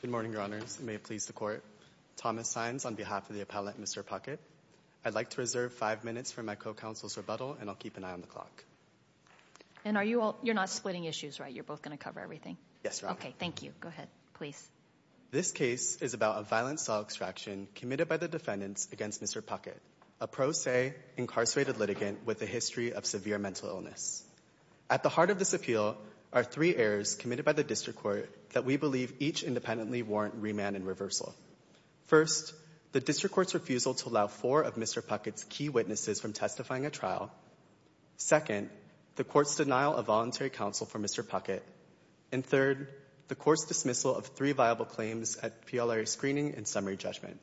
Good morning, Your Honors. May it please the Court. Thomas Saenz on behalf of the appellant, Mr. Puckett. I'd like to reserve five minutes for my co-counsel's rebuttal and I'll keep an eye on the clock. And are you all, you're not splitting issues, right? You're both gonna cover everything? Yes, Your Honor. Okay, thank you. Go ahead, please. This case is about a violent cell extraction committed by the defendants against Mr. Puckett, a pro se incarcerated litigant with a history of severe mental illness. At the heart of this appeal are three errors committed by the district court that we believe each independently warrant remand and reversal. First, the district court's refusal to allow four of Mr. Puckett's key witnesses from testifying at trial. Second, the court's denial of voluntary counsel for Mr. Puckett. And third, the court's dismissal of three viable claims at PLRA screening and summary judgment.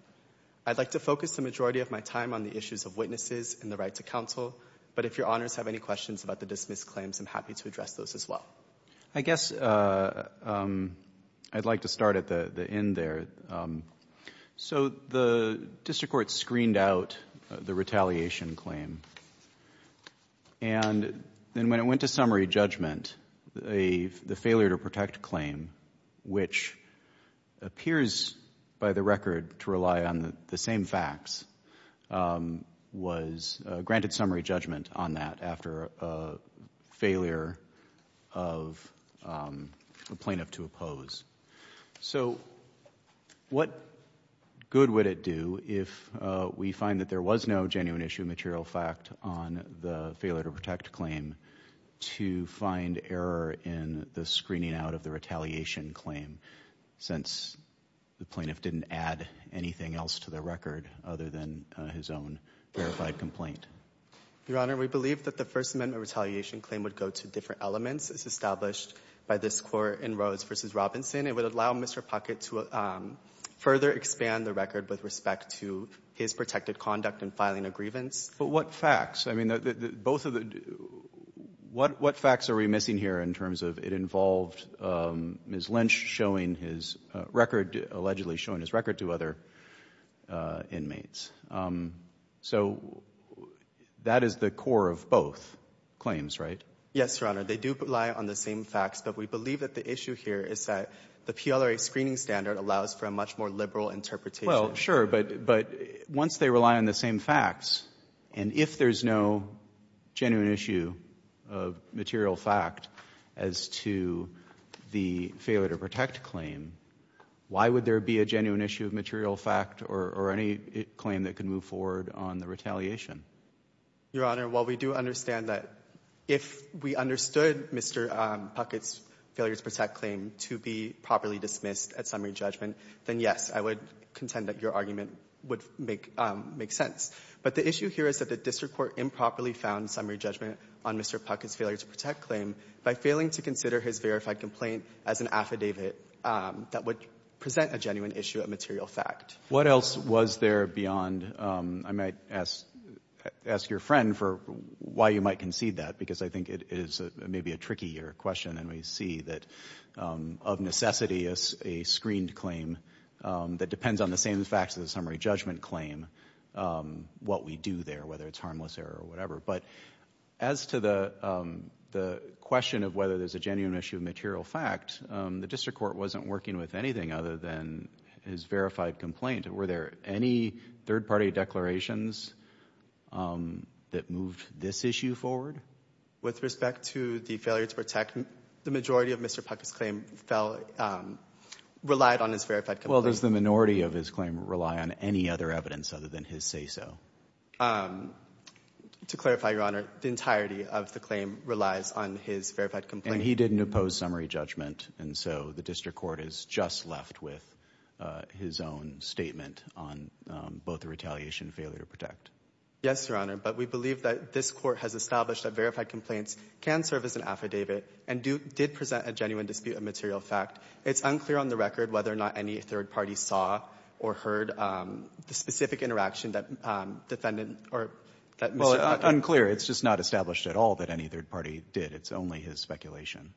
I'd like to focus the majority of my time on the issues of witnesses and the right to counsel, but if Your Honors have any questions about the dismissed claims, I'm happy to address those as well. I guess I'd like to start at the end there. So the district court screened out the retaliation claim, and then when it went to summary judgment, the failure to protect claim, which appears by the record to rely on the same facts, was granted summary judgment on that after a failure of the plaintiff to oppose. So what good would it do if we find that there was no genuine issue of material fact on the failure to protect claim to find error in the screening out of the retaliation claim, since the plaintiff didn't add anything else to the record other than his own verified complaint? Your Honor, we believe that the First Amendment retaliation claim would go to different elements as established by this court in Rose v. Robinson. It would allow Mr. Puckett to further expand the record with respect to his protected conduct in filing a grievance. But what facts? I mean, both of the, what facts are we missing here in terms of it involved Ms. Lynch showing his record, allegedly showing his record to other inmates? So that is the core of both claims, right? Yes, Your Honor. They do rely on the same facts, but we believe that the issue here is that the PLRA screening standard allows for a much more liberal interpretation. Well, sure, but once they rely on the same facts, and if there's no genuine issue of material fact as to the failure to protect claim, why would there be a genuine issue of material fact or any claim that can move forward on the retaliation? Your Honor, while we do understand that if we understood Mr. Puckett's failure to protect claim to be properly dismissed at summary judgment, then yes, I would contend that your argument would make sense. But the issue here is that the district court improperly found summary judgment on Mr. Puckett's failure to protect claim by failing to consider his verified complaint as an affidavit that would present a genuine issue of material fact. What else was there beyond, I might ask your friend for why you might concede that, because I think it is maybe a trickier question, and we see that of necessity, a screened claim that depends on the same facts as a summary judgment claim, what we do there, whether it's harmless error or whatever. But as to the question of whether there's a genuine issue of material fact, the district court wasn't working with anything other than his verified complaint. Were there any third-party declarations that moved this issue forward? With respect to the failure to protect, the majority of Mr. Puckett's claim relied on his verified complaint. Well, does the minority of his claim rely on any other evidence other than his case? To clarify, Your Honor, the entirety of the claim relies on his verified complaint. And he didn't oppose summary judgment, and so the district court is just left with his own statement on both the retaliation and failure to protect. Yes, Your Honor, but we believe that this court has established that verified complaints can serve as an affidavit and did present a genuine dispute of material fact. It's unclear on the record whether or not any third party saw or heard the specific interaction that defendant or... Well, it's unclear. It's just not established at all that any third party did. It's only his speculation.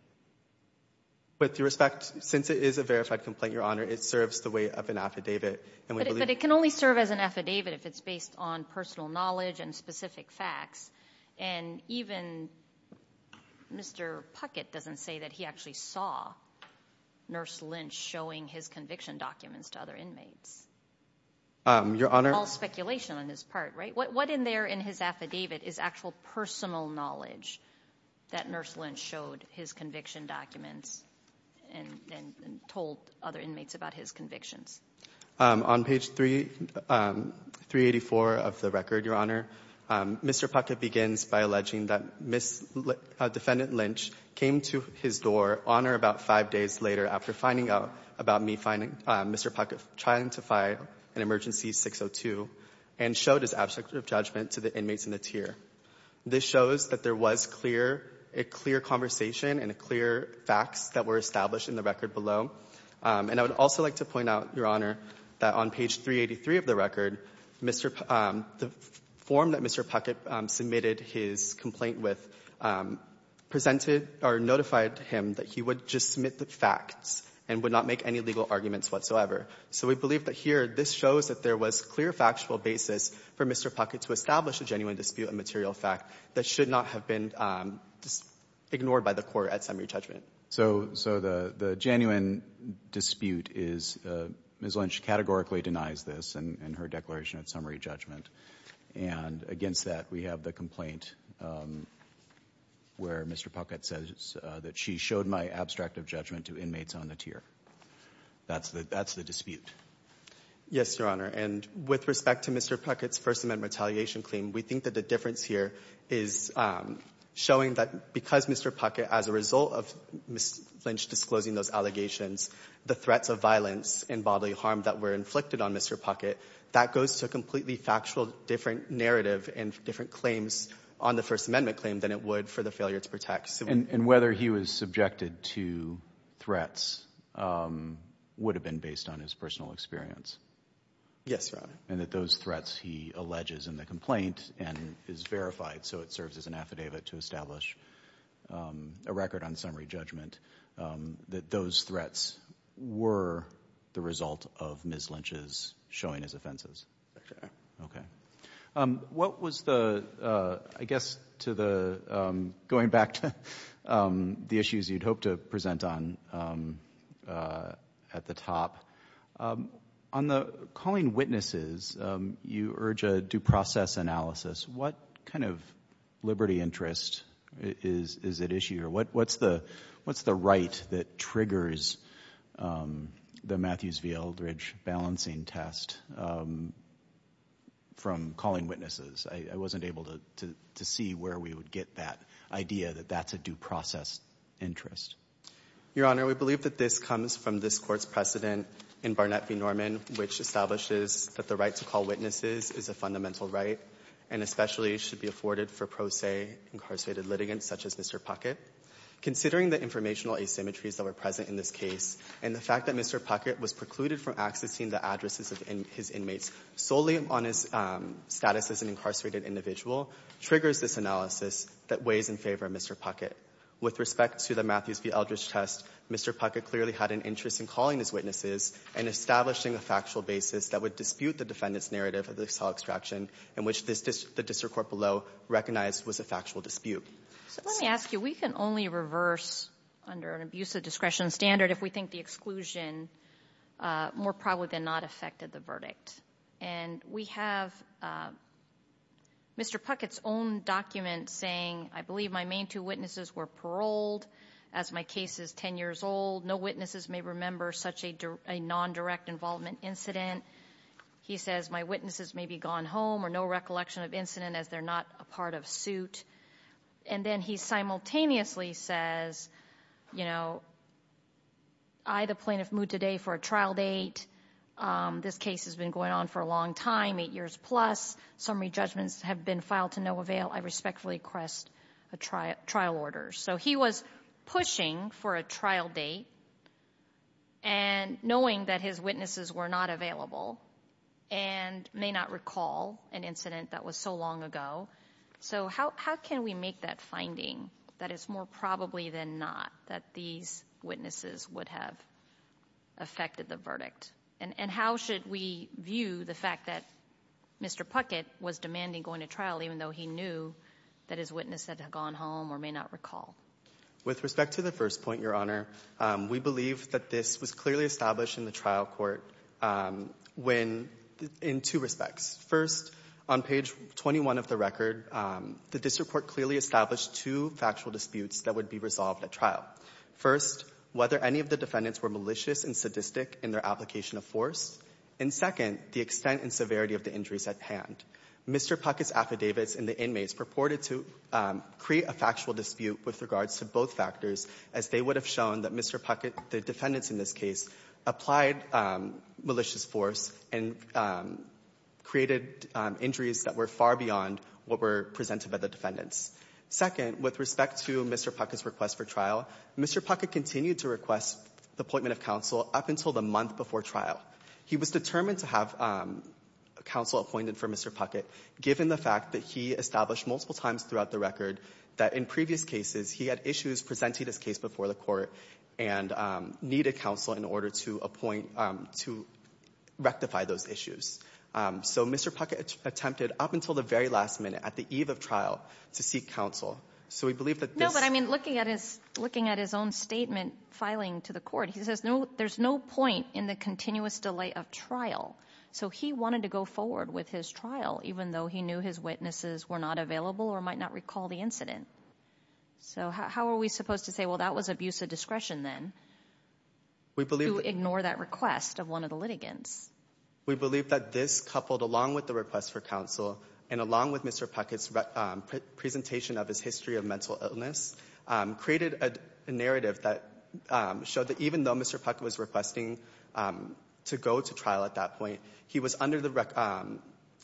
With your respect, since it is a verified complaint, Your Honor, it serves the weight of an affidavit. But it can only serve as an affidavit if it's based on personal knowledge and specific facts. And even Mr. Puckett doesn't say that he actually saw Nurse Lynch showing his conviction documents to other inmates. Your Honor... All speculation on his part, right? What in there in his affidavit is actual personal knowledge that Nurse Lynch showed his conviction documents and told other inmates about his convictions? On page 384 of the record, Your Honor, Mr. Puckett begins by alleging that Ms. Lynch, defendant Lynch, came to his door on or about five days later after finding out about me finding Mr. Puckett trying to file an emergency 602 and showed his abstract of judgment to the inmates in the tier. This shows that there was clear, a clear conversation and a clear facts that were established in the record below. And I would also like to point out, Your Honor, that on page 383 of the record, Mr. Puckett, the form that Mr. Puckett submitted his complaint with presented or notified him that he would just submit the facts and would not make any legal arguments whatsoever. So we believe that here, this shows that there was clear factual basis for Mr. Puckett to establish a genuine dispute and material fact that should not have been ignored by the court at summary judgment. So, so the, the genuine dispute is Ms. Lynch categorically denies this and her declaration at summary judgment. And against that, we have the complaint where Mr. Puckett says that she showed my abstract of judgment to inmates on the tier. That's the, that's the dispute. Yes, Your Honor. And with respect to Mr. Puckett's First Amendment retaliation claim, we think that the difference here is showing that because Mr. Puckett, as a result of Ms. Lynch disclosing those allegations, the threats of violence and bodily harm that were inflicted on Mr. Puckett, that goes to a completely factual, different narrative and different claims on the First Amendment claim than it would for the failure to protect. And, and whether he was subjected to threats would have been based on his personal experience. Yes, Your Honor. And that those threats he alleges in the complaint and is verified. So it serves as an affidavit to establish a record on summary judgment that those threats were the result of Ms. Lynch's showing his offenses. What was the, I guess to the, going back to the issues you'd hope to present on at the top, on the calling witnesses, you urge a due process analysis. What kind of liberty interest is, is at issue? Or what, what's the, what's the right that triggers the Matthews v. Eldridge balancing test from calling witnesses? I wasn't able to, to, to see where we would get that idea that that's a due process interest. Your Honor, we believe that this comes from this court's precedent in Barnett v. Norman, which establishes that the right to call witnesses is a fundamental right and especially should be afforded for pro se incarcerated litigants such as Mr. Puckett. Considering the informational asymmetries that were present in this case and the fact that Mr. Puckett was precluded from accessing the addresses of his inmates solely on his status as an incarcerated individual triggers this analysis that weighs in favor of Mr. Puckett. With respect to the Matthews v. Eldridge test, Mr. Puckett clearly had an interest in calling his witnesses and establishing a factual basis that would dispute the defendant's narrative of the cell extraction in which this district, the district court below recognized was a factual dispute. So let me ask you, we can only reverse under an abusive discretion standard if we think the exclusion more probably than not affected the verdict. And we have Mr. Puckett's own document saying, I believe my main two witnesses were paroled as my case is 10 years old. No witnesses may remember such a non-direct involvement incident. He says, my witnesses may be gone home or no recollection of incident as they're not a part of suit. And then he simultaneously says, you know, I, the plaintiff moved today for a trial date. Um, this case has been going on for a long time, eight years plus. Summary judgments have been filed to no avail. I respectfully request a trial trial order. So he was pushing for a trial date and knowing that his witnesses were not available and may not recall an incident that was so long ago. So how, how can we make that finding that it's more probably than not that these witnesses would have affected the verdict? And, and how should we view the fact that Mr. Puckett was demanding going to trial, even though he knew that his witness said had gone home or may not recall? With respect to the first point, your honor, um, we believe that this was clearly established in the trial court. Um, when in two respects, first on page 21 of the record, um, the district court clearly established two factual disputes that would be resolved at trial first, whether any of the defendants were malicious and sadistic in their application of force. And second, the extent and severity of the injuries at hand, Mr. Puckett's affidavits and the inmates purported to, um, create a factual dispute with regards to both factors, as they would have shown that Mr. Puckett, the defendants in this case applied, um, malicious force and, um, created, um, injuries that were far beyond what were presented by the defendants. Second, with respect to Mr. Puckett's request for trial, Mr. Puckett continued to request the appointment of counsel up until the month before trial. He was determined to have, um, counsel appointed for Mr. Puckett, given the fact that he established multiple times throughout the record that in previous cases, he had issues presenting this case before the court and, um, need a counsel in order to appoint, um, to rectify those issues. Um, so Mr. Puckett attempted up until the very last minute at the eve of trial to seek counsel. So we believe that this... No, but I mean, looking at his, looking at his own statement filing to the court, he says, no, there's no point in the continuous delay of trial. So he wanted to go forward with his trial, even though he knew his witnesses were not available or might not recall the incident. So how are we supposed to say, well, that was abuse of discretion then? We believe... To ignore that request of one of the litigants. We believe that this coupled along with the request for counsel and along with Mr. Puckett's, um, presentation of his history of mental illness, um, created a narrative that, um, showed that even though Mr. Puckett was requesting, um, to go to trial at that point, he was under the rec... Um,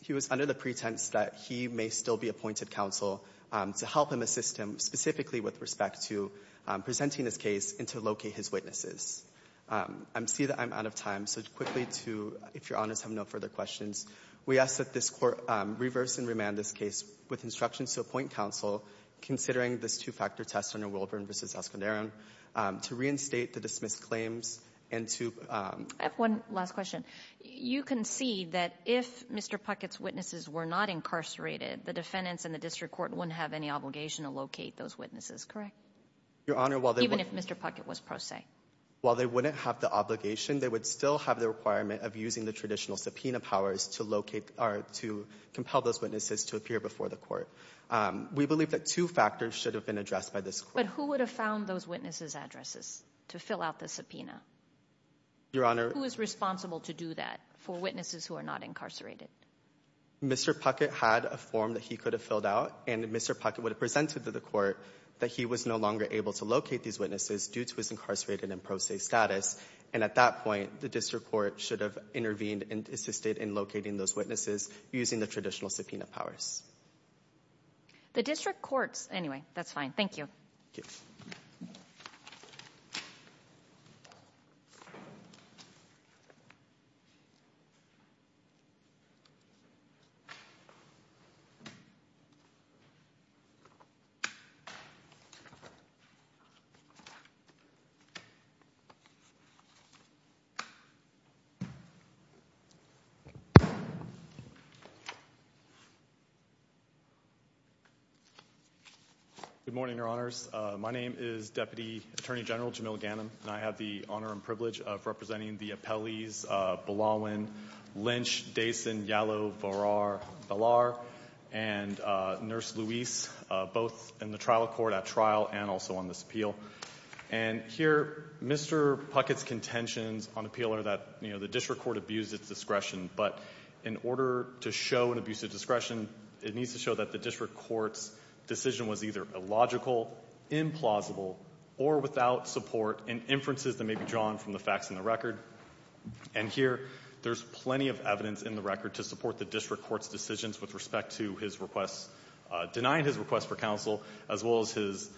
he was under the pretense that he may still be appointed counsel, um, to help him assist him specifically with respect to, um, presenting his case and to locate his witnesses. Um, I see that I'm out of time, so quickly to, if you're honest, I have no further questions. We ask that this Court, um, reverse and remand this case with instructions to appoint counsel considering this two-factor test under Wilburn v. Esconderon, um, to reinstate the dismissed claims and to, um... I have one last question. You can see that if Mr. Puckett's witnesses were not incarcerated, the defendants and the district court wouldn't have any obligation to locate those witnesses, correct? Your Honor, while they... Even if Mr. Puckett was pro se. While they wouldn't have the obligation, they would still have the requirement of using the traditional subpoena powers to locate, or to compel those witnesses to appear before the court. Um, we believe that two factors should have been addressed by this Court. But who would have found those witnesses' addresses to fill out the subpoena? Your Honor... Who is responsible to do that for witnesses who are not incarcerated? Mr. Puckett had a form that he could have filled out, and Mr. Puckett would have presented to the court that he was no longer able to locate these witnesses due to his incarcerated and pro se status. And at that point, the district court should have intervened and assisted in locating those witnesses using the traditional subpoena powers. The district courts... Anyway, that's fine. Thank you. Okay. Good morning, Your Honors. My name is Deputy Attorney General Jamil Ghanem, and I have the honor and privilege of representing the appellees Belawin, Lynch, Dason, Yalow, Varar, Belar, and Nurse Louise, both in the trial court at trial and also on this appeal. And here, Mr. Puckett's contentions on appeal are that, you know, the district court abused its discretion, but in order to show an abuse of discretion, it needs to show that the district court's decision was either illogical, implausible, or without support in inferences that may be drawn from the facts in the record. And here, there's plenty of evidence in the record to support the district court's decisions with respect to his request, denying his request for counsel, as well as his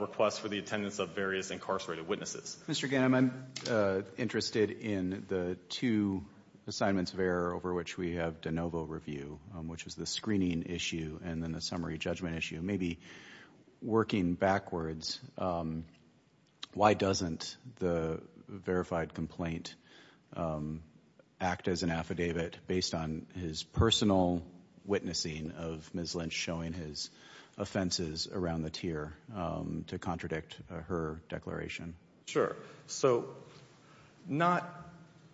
request for the attendance of various incarcerated witnesses. Mr. Ghanem, I'm interested in the two assignments of error over which we have de summary judgment issue, maybe working backwards, why doesn't the verified complaint act as an affidavit based on his personal witnessing of Ms. Lynch showing his offenses around the tier to contradict her declaration? Sure. So not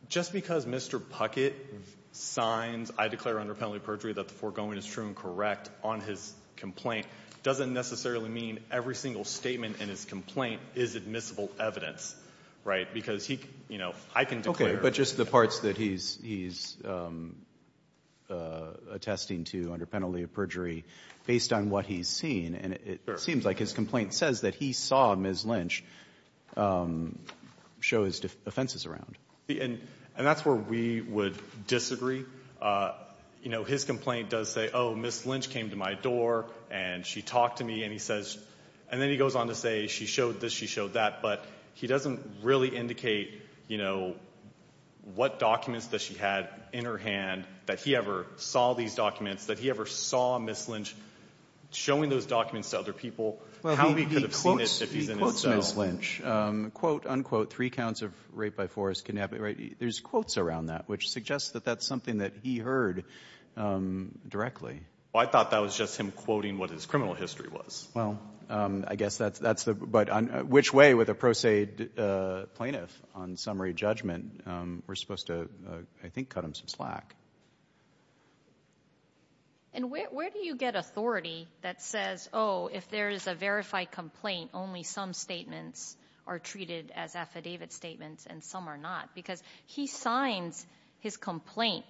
just because Mr. Puckett signs, I declare under penalty of perjury that the foregoing is true and correct on his complaint doesn't necessarily mean every single statement in his complaint is admissible evidence, right? Because he, you know, I can declare. But just the parts that he's, he's attesting to under penalty of perjury based on what he's seen, and it seems like his complaint says that he saw Ms. Lynch show his offenses around. And, and that's where we would disagree. You know, his complaint does say, oh, Ms. Lynch came to my door and she talked to me, and he says, and then he goes on to say she showed this, she showed that, but he doesn't really indicate, you know, what documents that she had in her hand that he ever saw these documents, that he ever saw Ms. Lynch showing those documents to other people, how he could have seen it if he's in his cell. Well, he quotes, he quotes Ms. Lynch. Quote, unquote, three counts of rape by force, kidnapping, right? There's quotes around that, which suggests that that's something that he heard directly. Well, I thought that was just him quoting what his criminal history was. Well, I guess that's, that's the, but which way with a pro se plaintiff on summary judgment, we're supposed to, I think, cut him some slack. And where, where do you get authority that says, oh, if there is a verified complaint, only some statements are treated as affidavit statements and some are not. Because he signs his complaint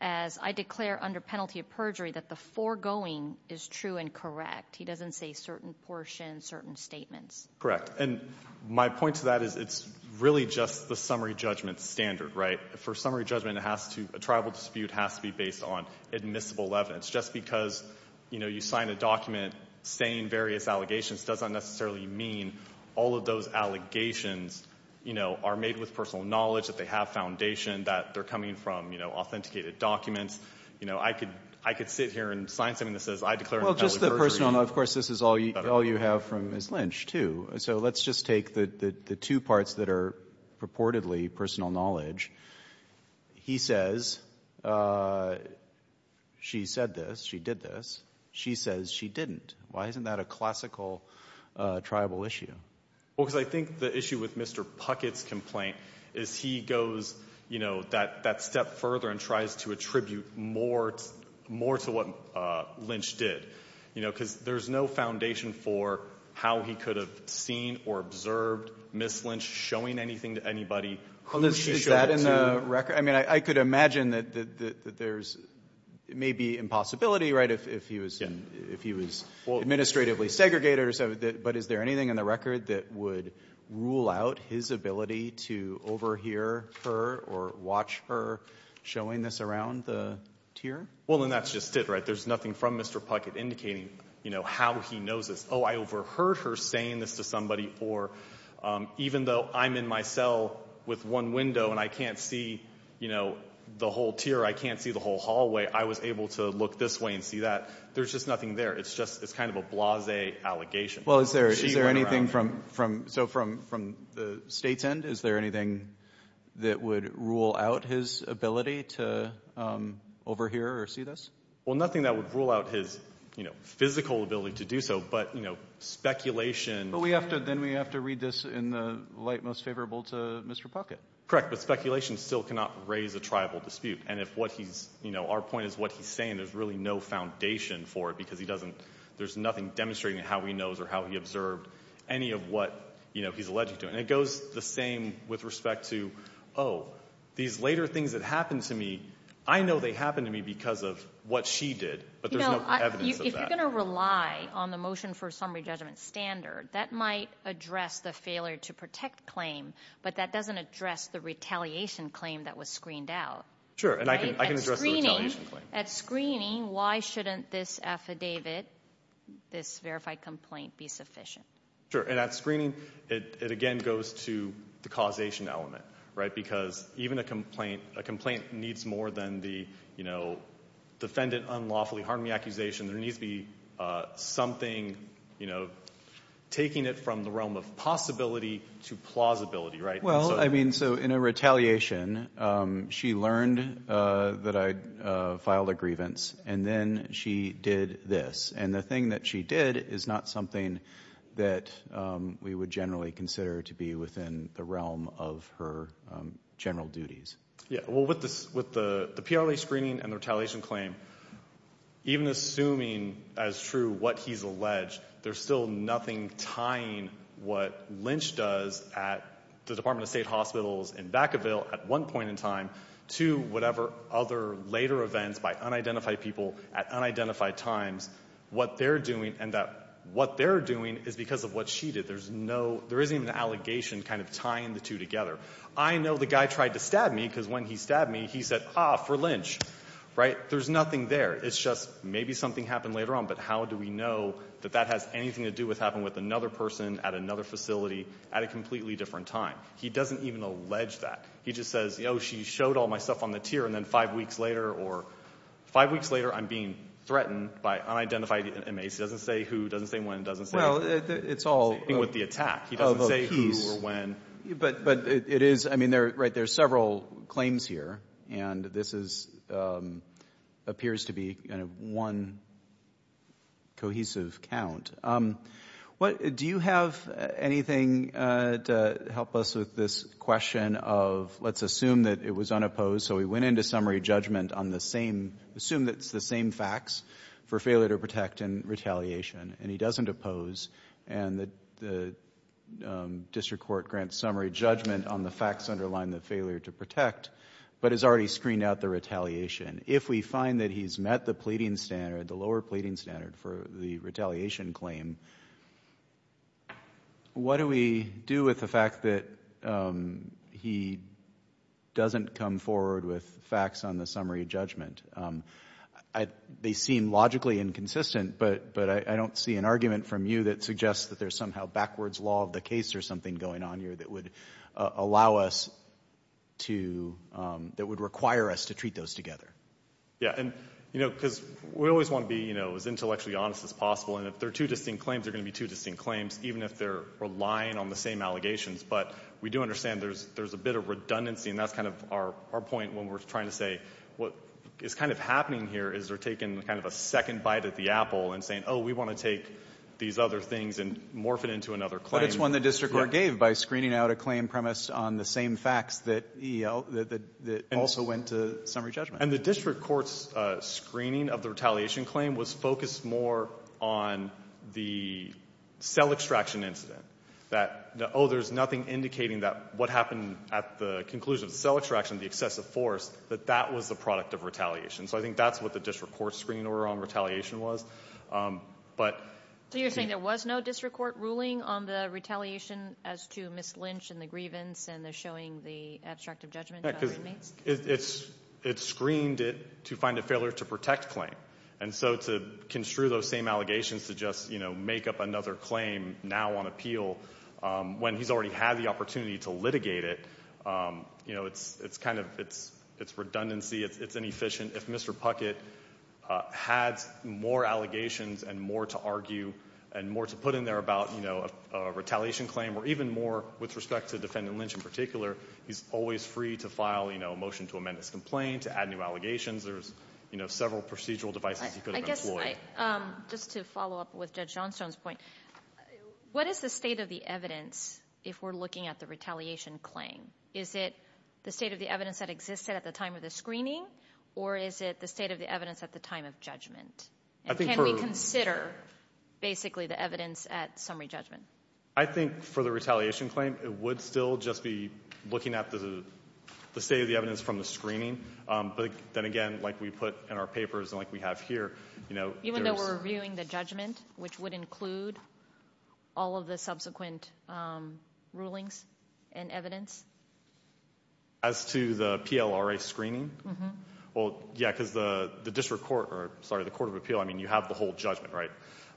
as, I declare under penalty of perjury that the foregoing is true and correct. He doesn't say certain portions, certain statements. Correct. And my point to that is it's really just the summary judgment standard, right? For summary judgment, it has to, a tribal dispute has to be based on admissible evidence, just because, you know, you sign a document saying various allegations doesn't necessarily mean all of those allegations, you know, are made with personal knowledge, that they have foundation, that they're coming from, you know, authenticated documents, you know, I could, I could sit here and sign something that says I declare under penalty of perjury. Well, just the personal, of course, this is all you, all you have from Ms. Lynch too. So let's just take the, the, the two parts that are purportedly personal knowledge. He says, she said this, she did this. She says she didn't. Why isn't that a classical tribal issue? Well, because I think the issue with Mr. Puckett's complaint is he goes, you know, that, that step further and tries to attribute more, more to what Lynch did, you know, because there's no foundation for how he could have seen or observed Ms. Lynch showing anything to anybody. Well, is that in the record? I mean, I could imagine that, that, that there's maybe impossibility, right? If, if he was, if he was administratively segregated or so, but is there anything in the record that would rule out his ability to overhear her or watch her showing this around the tier? Well, and that's just it, right? There's nothing from Mr. Puckett indicating, you know, how he knows this. Oh, I overheard her saying this to somebody or even though I'm in my cell with one window and I can't see, you know, the whole tier, I can't see the whole hallway, I was able to look this way and see that there's just nothing there. It's just, it's kind of a blase allegation. Well, is there, is there anything from, from, so from, from the state's end, is there anything that would rule out his ability to overhear or see this? Well, nothing that would rule out his, you know, physical ability to do so, but, you know, speculation. But we have to, then we have to read this in the light most favorable to Mr. Puckett. Correct. But speculation still cannot raise a tribal dispute. And if what he's, you know, our point is what he's saying, there's really no foundation for it because he doesn't, there's nothing demonstrating how he observed any of what, you know, he's alleged to. And it goes the same with respect to, oh, these later things that happened to me, I know they happened to me because of what she did, but there's no evidence of that. You know, if you're going to rely on the motion for summary judgment standard, that might address the failure to protect claim, but that doesn't address the retaliation claim that was screened out. Sure. And I can, I can address the retaliation claim. At screening, why shouldn't this affidavit, this verified complaint be sufficient? Sure. And at screening, it again goes to the causation element, right? Because even a complaint, a complaint needs more than the, you know, defendant unlawfully harmed me accusation. There needs to be something, you know, taking it from the realm of possibility to plausibility, right? Well, I mean, so in a retaliation she learned that I filed a grievance and then she did this and the thing that she did is not something that we would generally consider to be within the realm of her general duties. Yeah. Well, with this, with the, the PLA screening and the retaliation claim, even assuming as true what he's alleged, there's still nothing tying what Lynch does at the Department of State Hospitals in Vacaville at one point in time to whatever other later events by unidentified people at unidentified times, what they're doing and that what they're doing is because of what she did. There's no, there isn't even an allegation kind of tying the two together. I know the guy tried to stab me because when he stabbed me, he said, ah, for Lynch. Right? There's nothing there. It's just maybe something happened later on, but how do we know that that has anything to do with, happened with another person at another facility at a completely different time? He doesn't even allege that. He just says, you know, she showed all my stuff on the tier and then five weeks later or five weeks later, I'm being threatened by unidentified inmates. He doesn't say who, doesn't say when, doesn't say anything with the attack. He doesn't say who or when. But, but it is, I mean, they're right. There's several claims here and this is, um, appears to be kind of one cohesive count. Um, what, do you have anything, uh, to help us with this question of, let's assume that it was unopposed. So we went into summary judgment on the same, assume that it's the same facts for failure to protect and retaliation and he doesn't oppose and the, the, um, district court grants summary judgment on the facts underlying the failure to protect, but has already screened out the retaliation. If we find that he's met the pleading standard, the lower pleading standard for the retaliation claim, what do we do with the fact that, um, he doesn't come forward with facts on the summary judgment? Um, I, they seem logically inconsistent, but, but I don't see an argument from you that suggests that there's somehow backwards law of the case or something going on here that would allow us to, um, that would require us to treat those together. Yeah. And, you know, because we always want to be, you know, as intellectually honest as possible. And if they're two distinct claims, they're going to be two distinct claims, even if they're relying on the same allegations. But we do understand there's, there's a bit of redundancy. And that's kind of our, our point when we're trying to say what is kind of happening here is they're taking kind of a second bite at the apple and saying, oh, we want to take these other things and morph it into another claim. But it's one the district court gave by screening out a claim premise on the same facts that he, uh, that, that, that also went to summary judgment. And the district court's, uh, screening of the retaliation claim was focused more on the cell extraction incident that, oh, there's nothing indicating that what happened at the conclusion of the cell extraction, the excessive force, that that was the product of retaliation. So I think that's what the district court's screening order on retaliation was. Um, but. So you're saying there was no district court ruling on the retaliation as to Ms. Lynch and the grievance and the showing the abstract of judgment to other inmates? It's, it's, it's screened it to find a failure to protect claim. And so to construe those same allegations to just, you know, make up another claim now on appeal, um, when he's already had the opportunity to litigate it, um, you know, it's, it's kind of, it's, it's redundancy. It's, it's inefficient. If Mr. Puckett, uh, had more allegations and more to argue and more to put in there about, you know, a, a retaliation claim or even more with respect to defendant Lynch in particular, he's always free to file, you know, a motion to amend his complaint, to add new allegations. There's, you know, several procedural devices he could have employed. Um, just to follow up with Judge Johnstone's point, what is the state of the evidence if we're looking at the retaliation claim? Is it the state of the evidence that existed at the time of the screening or is it the state of the evidence at the time of judgment? And can we consider basically the evidence at summary judgment? I think for the retaliation claim, it would still just be looking at the, the state of the evidence from the screening. Um, but then again, like we put in our papers and like we have here, you know, even though we're reviewing the judgment, which would include all of the subsequent, um, rulings and evidence. As to the PLRA screening. Well, yeah, cause the, the district court or sorry, the court of appeal. I mean, you have the whole judgment, right?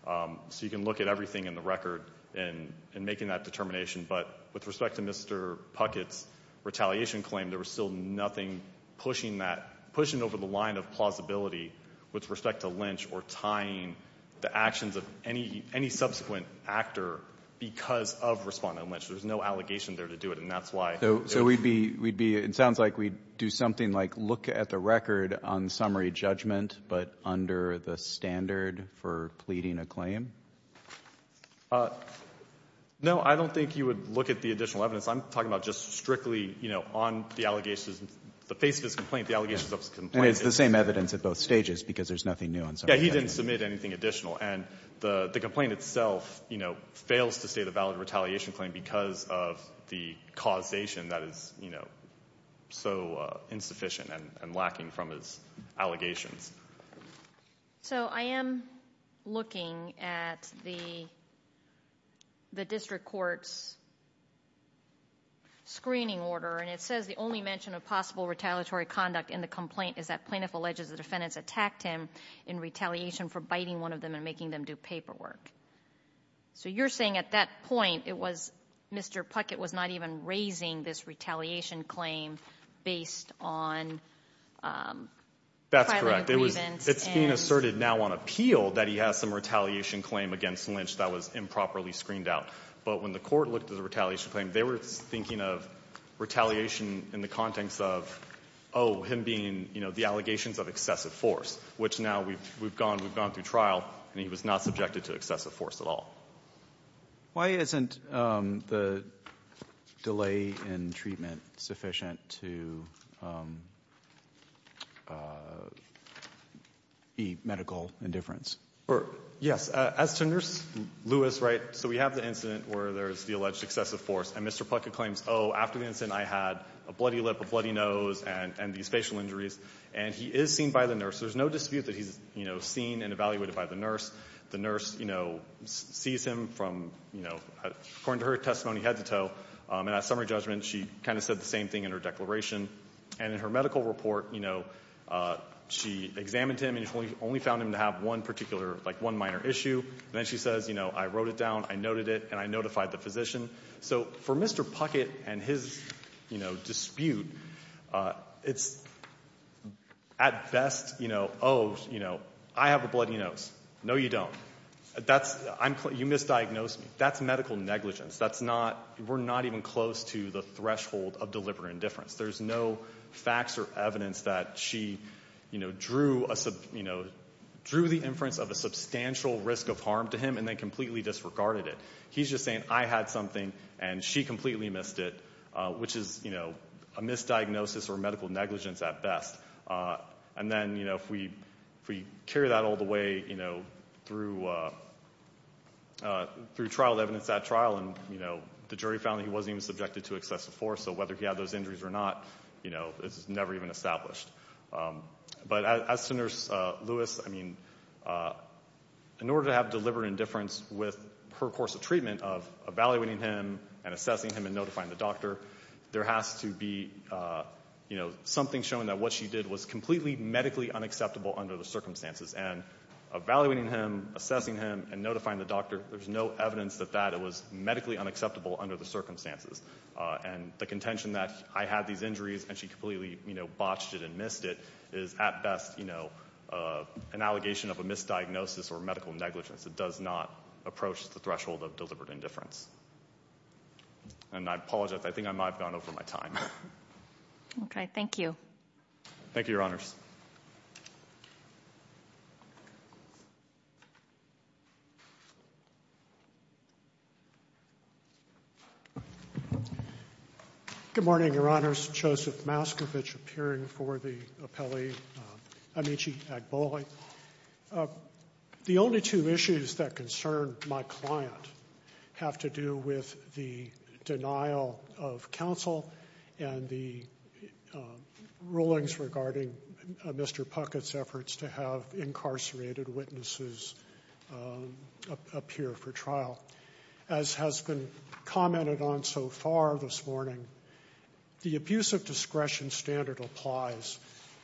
Um, so you can look at everything in the record and making that determination. But with respect to Mr. Puckett's retaliation claim, there was still nothing pushing that pushing over the line of plausibility with respect to Lynch or tying the actions of any, any subsequent actor because of respondent Lynch. There was no allegation there to do it. And that's why. So, so we'd be, we'd be, it sounds like we do something like look at the record on summary judgment, but under the standard for pleading a claim. Uh, no, I don't think you would look at the additional evidence I'm talking about just strictly, you know, on the allegations, the face of his complaint, the allegations of his complaint. It's the same evidence at both stages because there's nothing new on. So yeah, he didn't submit anything additional. And the, the complaint itself, you know, fails to say the valid retaliation claim because of the causation that is, you know, so insufficient and lacking from his allegations. So I am looking at the, the district court's screening order, and it says the only mention of possible retaliatory conduct in the complaint is that plaintiff alleges the defendants attacked him in retaliation for biting one of them and making them do paperwork. So you're saying at that point, it was Mr. Puckett was not even raising this retaliation claim based on, um, That's correct. There was, it's being asserted now on appeal that he has some retaliation claim against Lynch that was improperly screened out. But when the court looked at the retaliation claim, they were thinking of retaliation in the context of, oh, him being, you know, the allegations of excessive force, which now we've, we've gone, we've gone through trial and he was not subjected to excessive force at all. Why isn't, um, the delay in treatment sufficient to, um, uh, the medical indifference or yes, uh, as to nurse Lewis, right? So we have the incident where there's the alleged excessive force and Mr. Puckett claims, oh, after the incident, I had a bloody lip, a bloody nose and, and these facial injuries, and he is seen by the nurse. There's no dispute that he's, you know, seen and evaluated by the nurse, the nurse, you know, sees him from, you know, according to her testimony, head to toe. Um, and at summary judgment, she kind of said the same thing in her declaration and in her medical report, you know, uh, she examined him and he's only, only found him to have one particular, like one minor issue. And then she says, you know, I wrote it down, I noted it and I notified the physician. So for Mr. Puckett and his, you know, dispute, uh, it's at best, you know, oh, you know, I have a bloody nose. No, you don't. That's, I'm, you misdiagnosed me. That's medical negligence. That's not, we're not even close to the threshold of deliberate indifference. There's no facts or evidence that she, you know, drew a sub, you know, drew the inference of a substantial risk of harm to him and then completely disregarded it. He's just saying I had something and she completely missed it, uh, which is, you know, a misdiagnosis or medical negligence at best. Uh, and then, you know, if we, if we carry that all the way, you know, through, uh, uh, through trial evidence at trial and, you know, the jury found that he wasn't even subjected to excessive force. So whether he had those injuries or not, you know, it's never even established. Um, but as to nurse, uh, Lewis, I mean, uh, in order to have deliberate indifference with her course of treatment of evaluating him and assessing him and notifying the doctor, there has to be, uh, you know, something showing that what she did was completely medically unacceptable under the circumstances and evaluating him, assessing him and notifying the doctor. There's no evidence that that it was medically unacceptable under the circumstances. Uh, and the contention that I had these injuries and she completely botched it and missed it is at best, you know, uh, an allegation of a misdiagnosis or medical negligence. It does not approach the threshold of deliberate indifference. And I apologize. I think I might've gone over my time. Okay. Thank you. Thank you, Your Honors. Good morning, Your Honors. Joseph Mascovich appearing for the appellee, um, Amici Agbole. Uh, the only two issues that concern my client have to do with the denial of counsel and the, um, rulings regarding, uh, Mr. Puckett's efforts to have incarcerated witnesses, um, appear for trial. As has been commented on so far this morning, the abuse of discretion standard applies.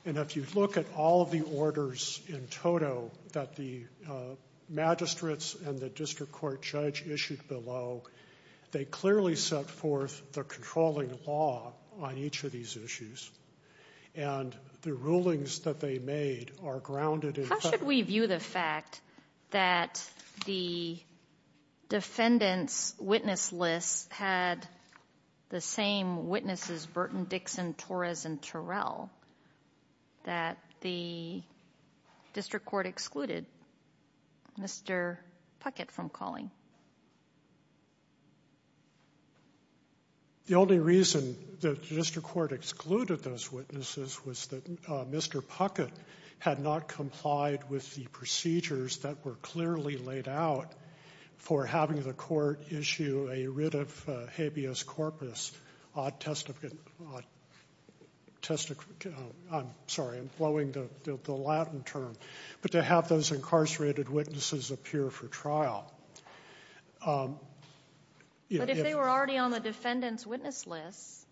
And if you look at all of the orders in total that the, uh, magistrates and the district court judge issued below, they clearly set forth the controlling law on each of these issues and the rulings that they made are grounded in... How should we view the fact that the defendant's witness list had the same witnesses, Burton, Dixon, Torres, and Terrell? That the district court excluded Mr. Puckett from calling? The only reason that the district court excluded those witnesses was that, uh, Mr. Puckett had not complied with the procedures that were clearly laid out for having the court issue a writ of habeas corpus, uh, testificate, uh, testif... I'm sorry, I'm blowing the Latin term, but to have those incarcerated witnesses appear for trial. Um... But if they were already on the defendant's witness list,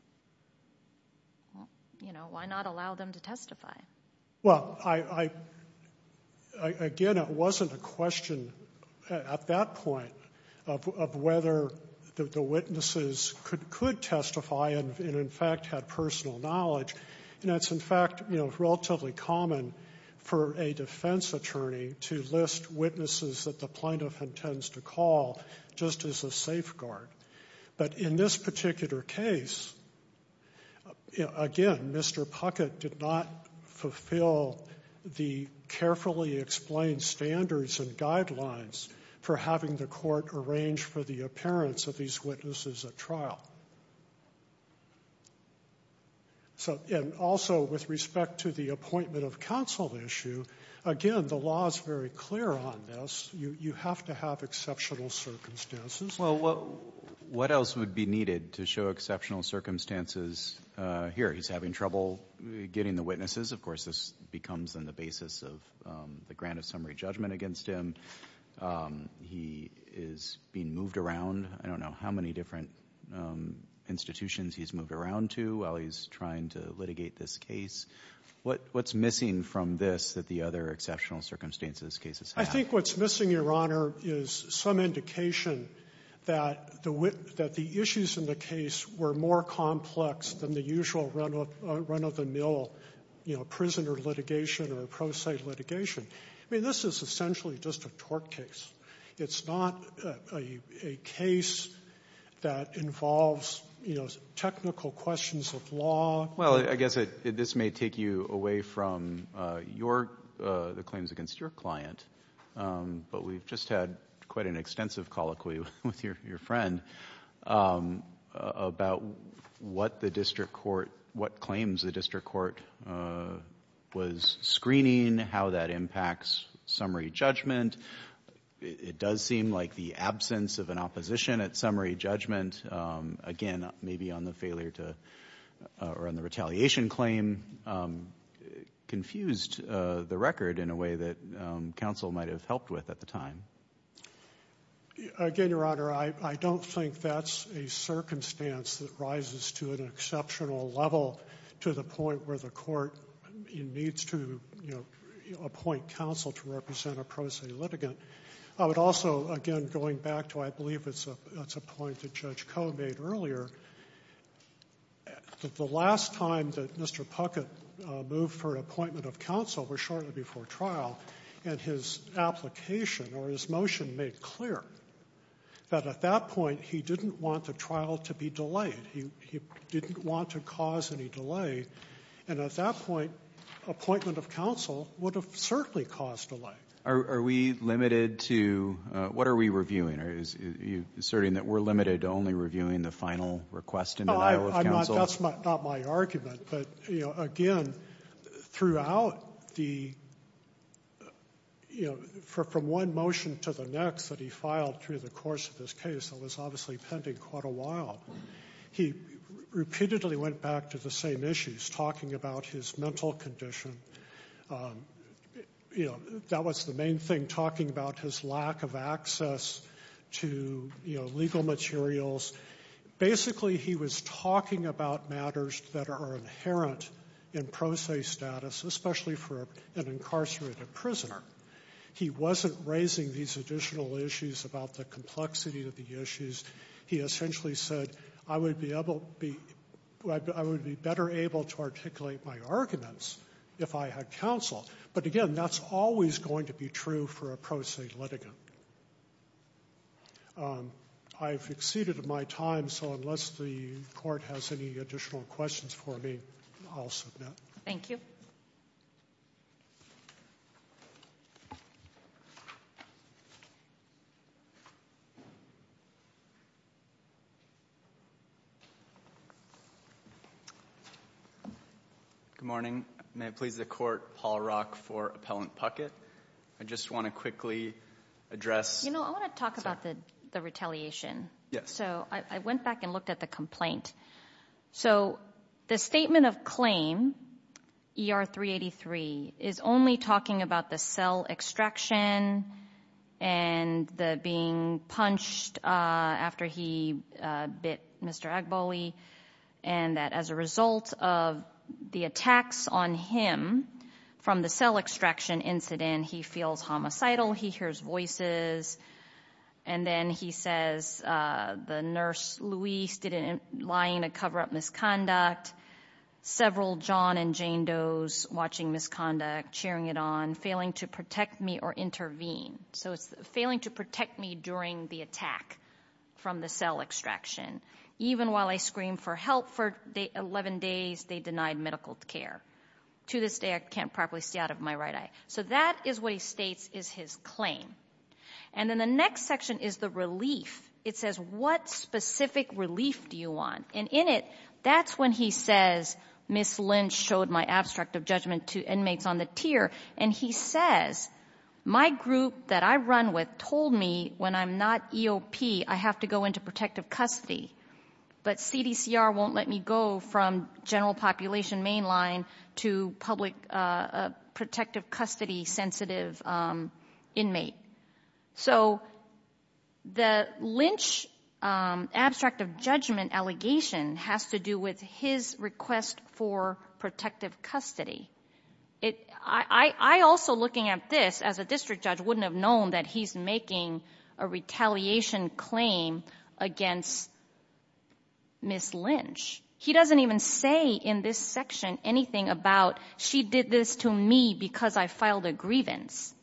well, you know, why not allow them to testify? Well, I, I, I, again, it wasn't a question at that point of, of whether the witnesses could, could testify and in fact had personal knowledge. And that's in fact, you know, relatively common for a defense attorney to list witnesses that the plaintiff intends to call just as a safeguard. But in this particular case, again, Mr. Puckett did not fulfill the carefully explained standards and guidelines for having the court arrange for the appearance of these witnesses at trial. So, and also with respect to the appointment of counsel issue, again, the law is very clear on this. You, you have to have exceptional circumstances. Well, what else would be needed to show exceptional circumstances? Uh, here, he's having trouble getting the witnesses. Of course, this becomes in the basis of, um, the grant of summary judgment against him, um, he is being moved around, I don't know how many different, um, institutions he's moved around to while he's trying to litigate this case. What, what's missing from this that the other exceptional circumstances cases have? I think what's missing, Your Honor, is some indication that the, that the issues in the case were more complex than the usual run of, run of the mill, you know, prisoner litigation or pro se litigation. I mean, this is essentially just a tort case. It's not a case that involves, you know, technical questions of law. Well, I guess it, this may take you away from, uh, your, uh, the claims against your client, um, but we've just had quite an extensive colloquy with your, your friend, um, about what the district court, what claims the district court, uh, was screening, how that impacts summary judgment. It does seem like the absence of an opposition at summary judgment, um, again, maybe on the failure to, uh, or on the retaliation claim, um, confused, uh, the record in a way that, um, counsel might've helped with at the time. Again, Your Honor, I, I don't think that's a circumstance that rises to an exceptional level to the point where the court needs to, you know, appoint counsel to represent a pro se litigant. I would also, again, going back to, I believe it's a, that's a point that Judge Koh made earlier, that the last time that Mr. Puckett, uh, moved for an appointment of counsel was shortly before trial and his application or his motion made clear that at that point, he didn't want the trial to be delayed. He, he didn't want to cause any delay. And at that point, appointment of counsel would have certainly caused a delay. Are we limited to, uh, what are we reviewing? Are you asserting that we're limited to only reviewing the final request and denial of counsel? That's not my argument, but, you know, again, throughout the, you know, for, from one motion to the next that he filed through the course of this case, that was obviously pending quite a while, he repeatedly went back to the same issues, talking about his mental condition, um, you know, that was the main thing, talking about his lack of access to, you know, legal materials. Basically he was talking about matters that are inherent in pro se status, especially for an incarcerated prisoner. He wasn't raising these additional issues about the complexity of the issues. He essentially said, I would be able to be, I would be better able to articulate my arguments if I had counsel. But again, that's always going to be true for a pro se litigant. Um, I've exceeded my time. So unless the court has any additional questions for me, I'll submit. Thank you. Good morning. May it please the court, Paul Rock for Appellant Puckett. I just want to quickly address. You know, I want to talk about the, the retaliation. Yes. So I went back and looked at the complaint. So the statement of claim ER 383 is only talking about the cell extraction and the punched, uh, after he, uh, bit Mr. Agboli and that as a result of the attacks on him from the cell extraction incident, he feels homicidal. He hears voices. And then he says, uh, the nurse Louise didn't lie in a coverup misconduct, several John and Jane Doe's watching misconduct, cheering it on, failing to protect me or intervene. So it's failing to protect me during the attack from the cell extraction, even while I scream for help for 11 days, they denied medical care to this day. I can't properly see out of my right eye. So that is what he states is his claim. And then the next section is the relief. It says, what specific relief do you want? And in it, that's when he says, Ms. Lynch showed my abstract of judgment to inmates on the tier. And he says, my group that I run with told me when I'm not EOP, I have to go into protective custody, but CDCR won't let me go from general population mainline to public, uh, protective custody, sensitive, um, inmate. So the Lynch, um, abstract of judgment allegation has to do with his request for protective custody. It, I, I also looking at this as a district judge, wouldn't have known that he's making a retaliation claim against Ms. Lynch. He doesn't even say in this section, anything about, she did this to me because I filed a grievance,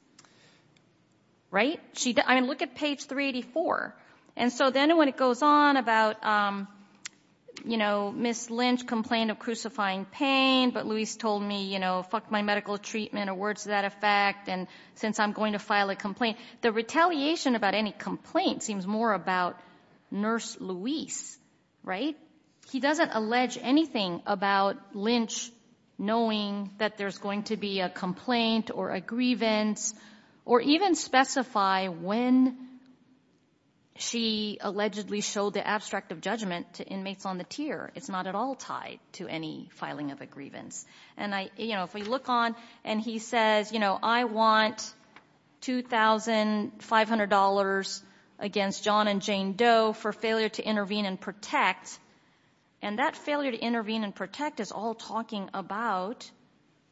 right? She, I mean, look at page 384. And so then when it goes on about, um, you know, Ms. Lynch complained of crucifying pain. But Louise told me, you know, fuck my medical treatment or words to that effect. And since I'm going to file a complaint, the retaliation about any complaint seems more about nurse Louise, right? He doesn't allege anything about Lynch knowing that there's going to be a complaint or a grievance or even specify when she allegedly showed the abstract of judgment to inmates on the tier. It's not at all tied to any filing of a grievance. And I, you know, if we look on and he says, you know, I want $2,500 against John and Jane Doe for failure to intervene and protect. And that failure to intervene and protect is all talking about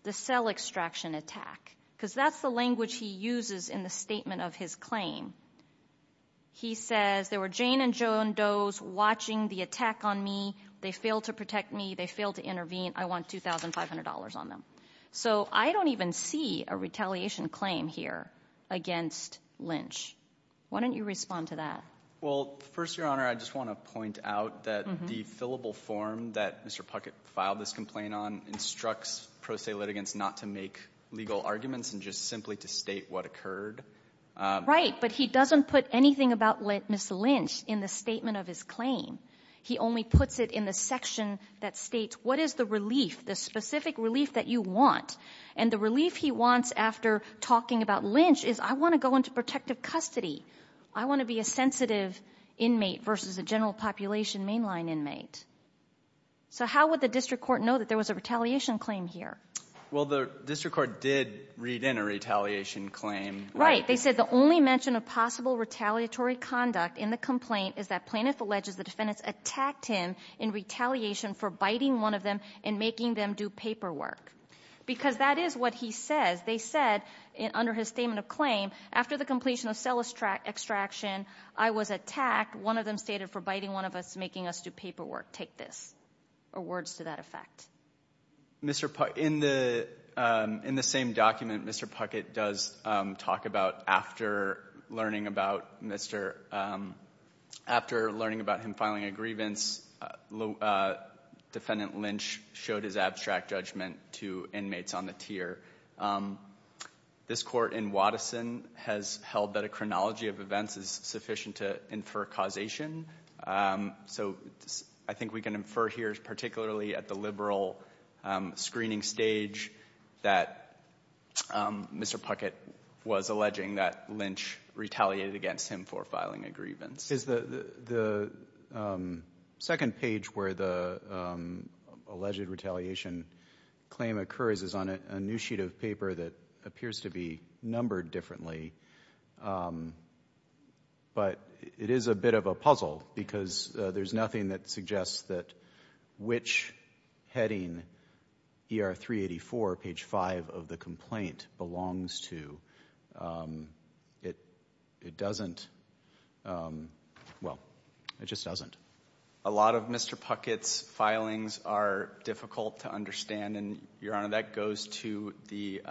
the cell extraction attack, because that's the language he uses in the statement of his claim. He says there were Jane and Joan Doe's watching the attack on me. They failed to protect me. They failed to intervene. I want $2,500 on them. So I don't even see a retaliation claim here against Lynch. Why don't you respond to that? Well, first, Your Honor, I just want to point out that the fillable form that Mr. Puckett filed this complaint on instructs pro se litigants not to make legal arguments and just simply to state what occurred. Right. But he doesn't put anything about Ms. Lynch in the statement of his claim. He only puts it in the section that states what is the relief, the specific relief that you want. And the relief he wants after talking about Lynch is I want to go into protective custody. I want to be a sensitive inmate versus a general population mainline inmate. So how would the district court know that there was a retaliation claim here? Well, the district court did read in a retaliation claim. Right. They said the only mention of possible retaliatory conduct in the complaint is that Plaintiff alleges the defendants attacked him in retaliation for biting one of them and making them do paperwork, because that is what he says. They said under his statement of claim, after the completion of cell extraction, I was attacked. One of them stated for biting one of us, making us do paperwork. Take this. Or words to that effect. Puckett, in the same document, Mr. Puckett does talk about after learning about him filing a grievance, Defendant Lynch showed his abstract judgment to inmates on the tier. This court in Waddeson has held that a chronology of events is sufficient to infer causation. So I think we can infer here, particularly at the liberal screening stage, that Mr. Puckett was alleging that Lynch retaliated against him for filing a grievance. Is the second page where the alleged retaliation claim occurs is on a new sheet of paper that appears to be numbered differently. But it is a bit of a puzzle because there's nothing that suggests that which heading, ER 384, page five of the complaint belongs to, it doesn't. Well, it just doesn't. A lot of Mr. Puckett's filings are difficult to understand. And Your Honor, that goes to the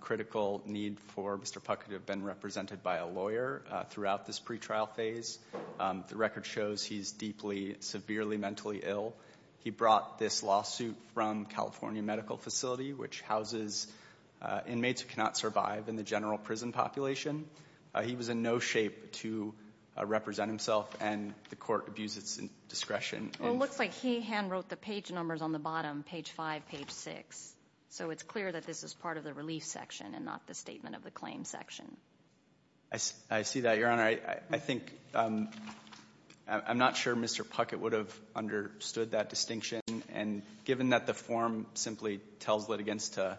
critical need for Mr. Puckett to have been represented by a lawyer throughout this pretrial phase. The record shows he's deeply, severely mentally ill. He brought this lawsuit from California Medical Facility, which houses inmates who cannot survive in the general prison population. He was in no shape to represent himself, and the court abused its discretion. Well, it looks like he handwrote the page numbers on the bottom, page five, page six. So it's clear that this is part of the relief section and not the statement of the claim section. I see that, Your Honor. I think, I'm not sure Mr. Puckett would have understood that distinction. And given that the form simply tells litigants to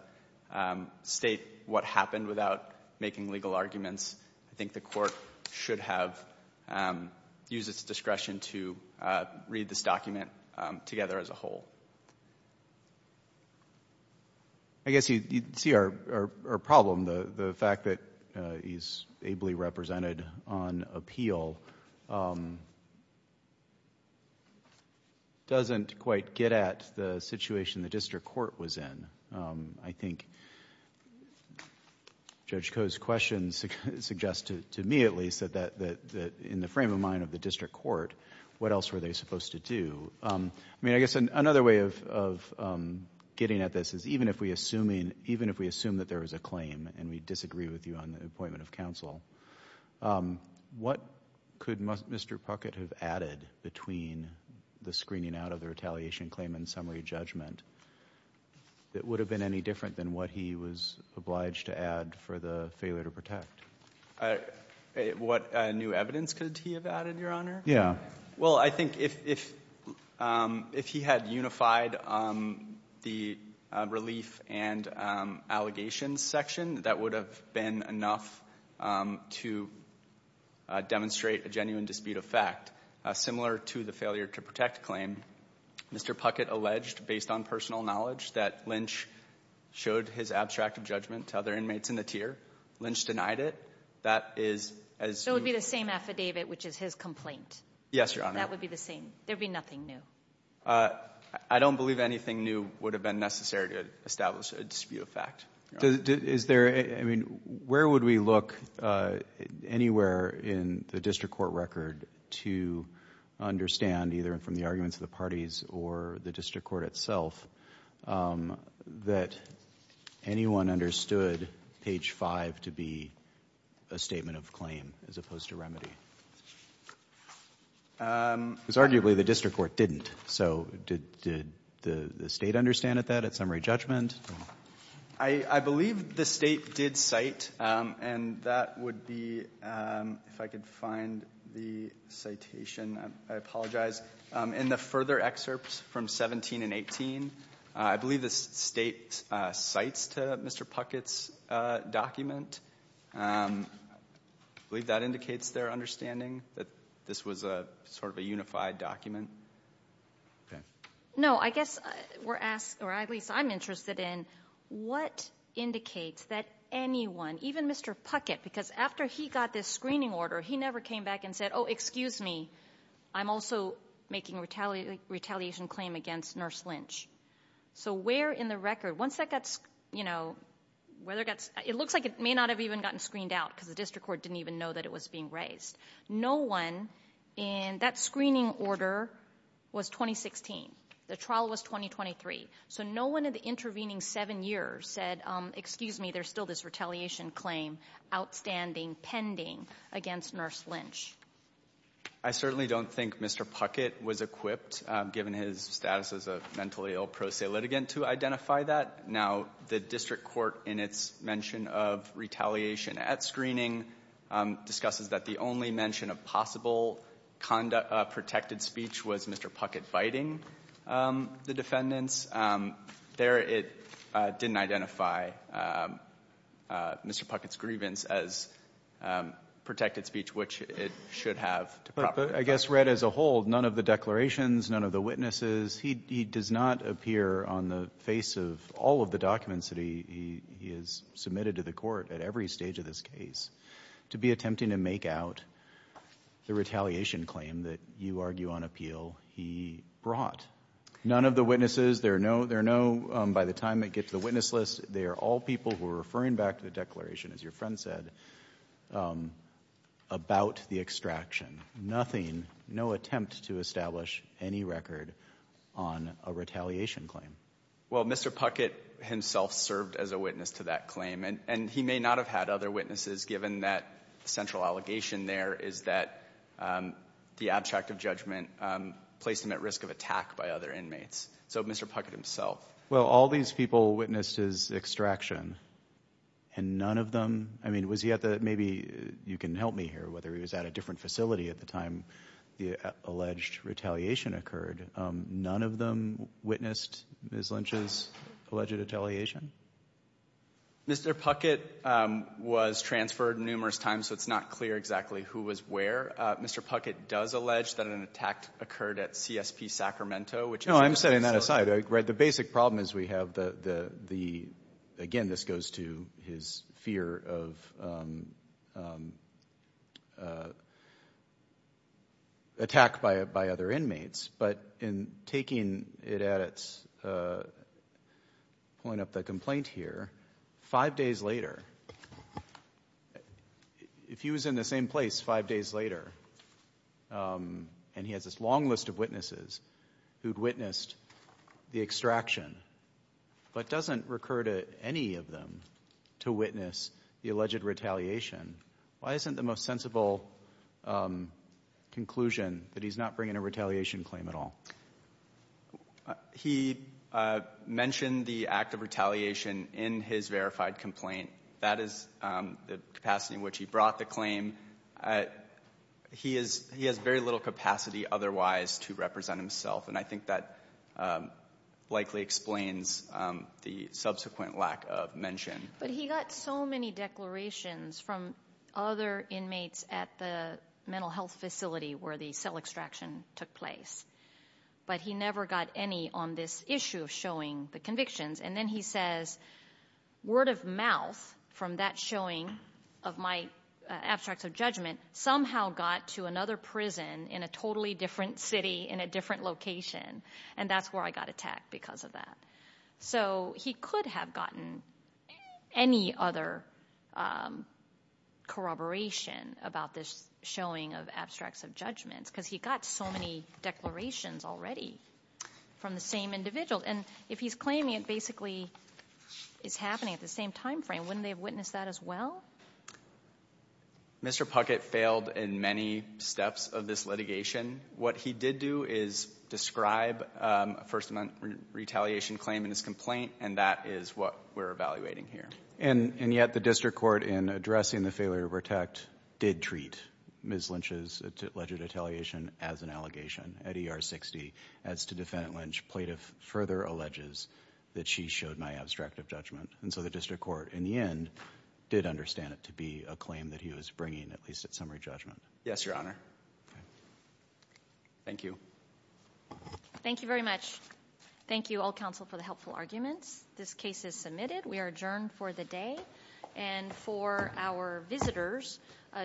state what happened without making legal arguments, I think the court should have used its discretion to read this document together as a whole. I guess you see our problem, the fact that he's ably represented on appeal doesn't quite get at the situation the district court was in. I think Judge Koh's question suggested, to me at least, that in the frame of mind of the district court, what else were they supposed to do? I mean, I guess another way of getting at this is even if we assume that there was a claim and we disagree with you on the appointment of counsel, what could Mr. Puckett have added between the screening out of the retaliation claim and summary judgment that would have been any different than what he was obliged to add for the failure to protect? What new evidence could he have added, Your Honor? Yeah. Well, I think if he had unified the relief and allegations section, that would have been enough to demonstrate a genuine dispute of fact, similar to the failure to protect claim, Mr. Puckett alleged, based on personal knowledge, that Lynch showed his abstracted judgment to other inmates in the tier. Lynch denied it. That is as... So it would be the same affidavit, which is his complaint. Yes, Your Honor. That would be the same. There'd be nothing new. I don't believe anything new would have been necessary to establish a dispute of fact. Is there, I mean, where would we look anywhere in the district court record to understand, either from the arguments of the parties or the district court itself, that anyone understood page five to be a statement of claim as opposed to remedy? Because arguably the district court didn't. So did the state understand that at summary judgment? I believe the state did cite, and that would be, if I could find the citation, I apologize, in the further excerpts from 17 and 18, I believe the state cites to Mr. Puckett's document. I believe that indicates their understanding that this was a sort of a unified document. No, I guess we're asked, or at least I'm interested in what indicates that anyone, even Mr. Puckett, because after he got this screening order, he never came back and said, oh, excuse me, I'm also making a retaliation claim against Nurse Lynch. So where in the record, once that got, you know, whether it got, it looks like it may not have even gotten screened out because the district court didn't even know that it was being raised. No one in that screening order was 2016. The trial was 2023. So no one in the intervening seven years said, excuse me, there's still this retaliation claim outstanding, pending against Nurse Lynch. I certainly don't think Mr. Puckett was equipped, given his status as a mentally ill pro se litigant, to identify that. Now, the district court, in its mention of retaliation at screening, discusses that the only mention of possible conduct of protected speech was Mr. Puckett biting the defendants. There, it didn't identify Mr. Puckett's grievance as protected speech, which it should have to proper defense. But I guess read as a whole, none of the declarations, none of the witnesses, he does not appear on the face of all of the documents that he has submitted to the court at every stage of this case to be attempting to make out the retaliation claim that you argue on appeal he brought. None of the witnesses, there are no, there are no, by the time it gets to the witness list, they are all people who are referring back to the declaration, as your friend said, about the extraction. Nothing, no attempt to establish any record on a retaliation claim. Well, Mr. Puckett himself served as a witness to that claim, and he may not have had other witnesses, given that the central allegation there is that the abject of judgment placed him at risk of attack by other inmates. So Mr. Puckett himself. Well, all these people witnessed his extraction and none of them, I mean, was he at maybe, you can help me here, whether he was at a different facility at the time the alleged retaliation occurred, none of them witnessed Ms. Lynch's alleged retaliation? Mr. Puckett was transferred numerous times, so it's not clear exactly who was where. Mr. Puckett does allege that an attack occurred at CSP Sacramento, which is. No, I'm setting that aside. The basic problem is we have the, again, this goes to his fear of attack by other inmates, but in taking it at, pulling up the complaint here, five days later, if he was in the same place five days later and he has this long list of witnesses who'd witnessed the extraction, but doesn't recur to any of them to witness the alleged retaliation, why isn't the most sensible conclusion that he's not bringing a retaliation claim at all? He mentioned the act of retaliation in his verified complaint. That is the capacity in which he brought the claim. He has very little capacity otherwise to represent himself, and I think that likely explains the subsequent lack of mention. But he got so many declarations from other inmates at the mental health facility where the cell extraction took place, but he never got any on this issue of showing the convictions. And then he says, word of mouth from that showing of my abstracts of judgment somehow got to another prison in a totally different city in a different location, and that's where I got attacked because of that. So he could have gotten any other corroboration about this showing of abstracts of judgments because he got so many declarations already from the same individuals. And if he's claiming it basically is happening at the same time frame, wouldn't they have witnessed that as well? Mr. Puckett failed in many steps of this litigation. What he did do is describe a first amendment retaliation claim in his complaint, and that is what we're evaluating here. And yet the district court, in addressing the failure to protect, did treat Ms. Lynch's alleged retaliation as an allegation at ER 60. As to defendant Lynch, plaintiff further alleges that she showed my abstract of judgment. And so the district court, in the end, did understand it to be a claim that he was bringing, at least at summary judgment. Yes, Your Honor. Thank you. Thank you very much. Thank you all counsel for the helpful arguments. This case is submitted. We are adjourned for the day. And for our visitors,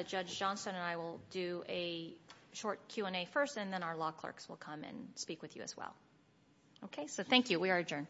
Judge Johnson and I will do a short Q&A first, and then our law clerks will come and speak with you as well. Okay. So thank you. We are adjourned.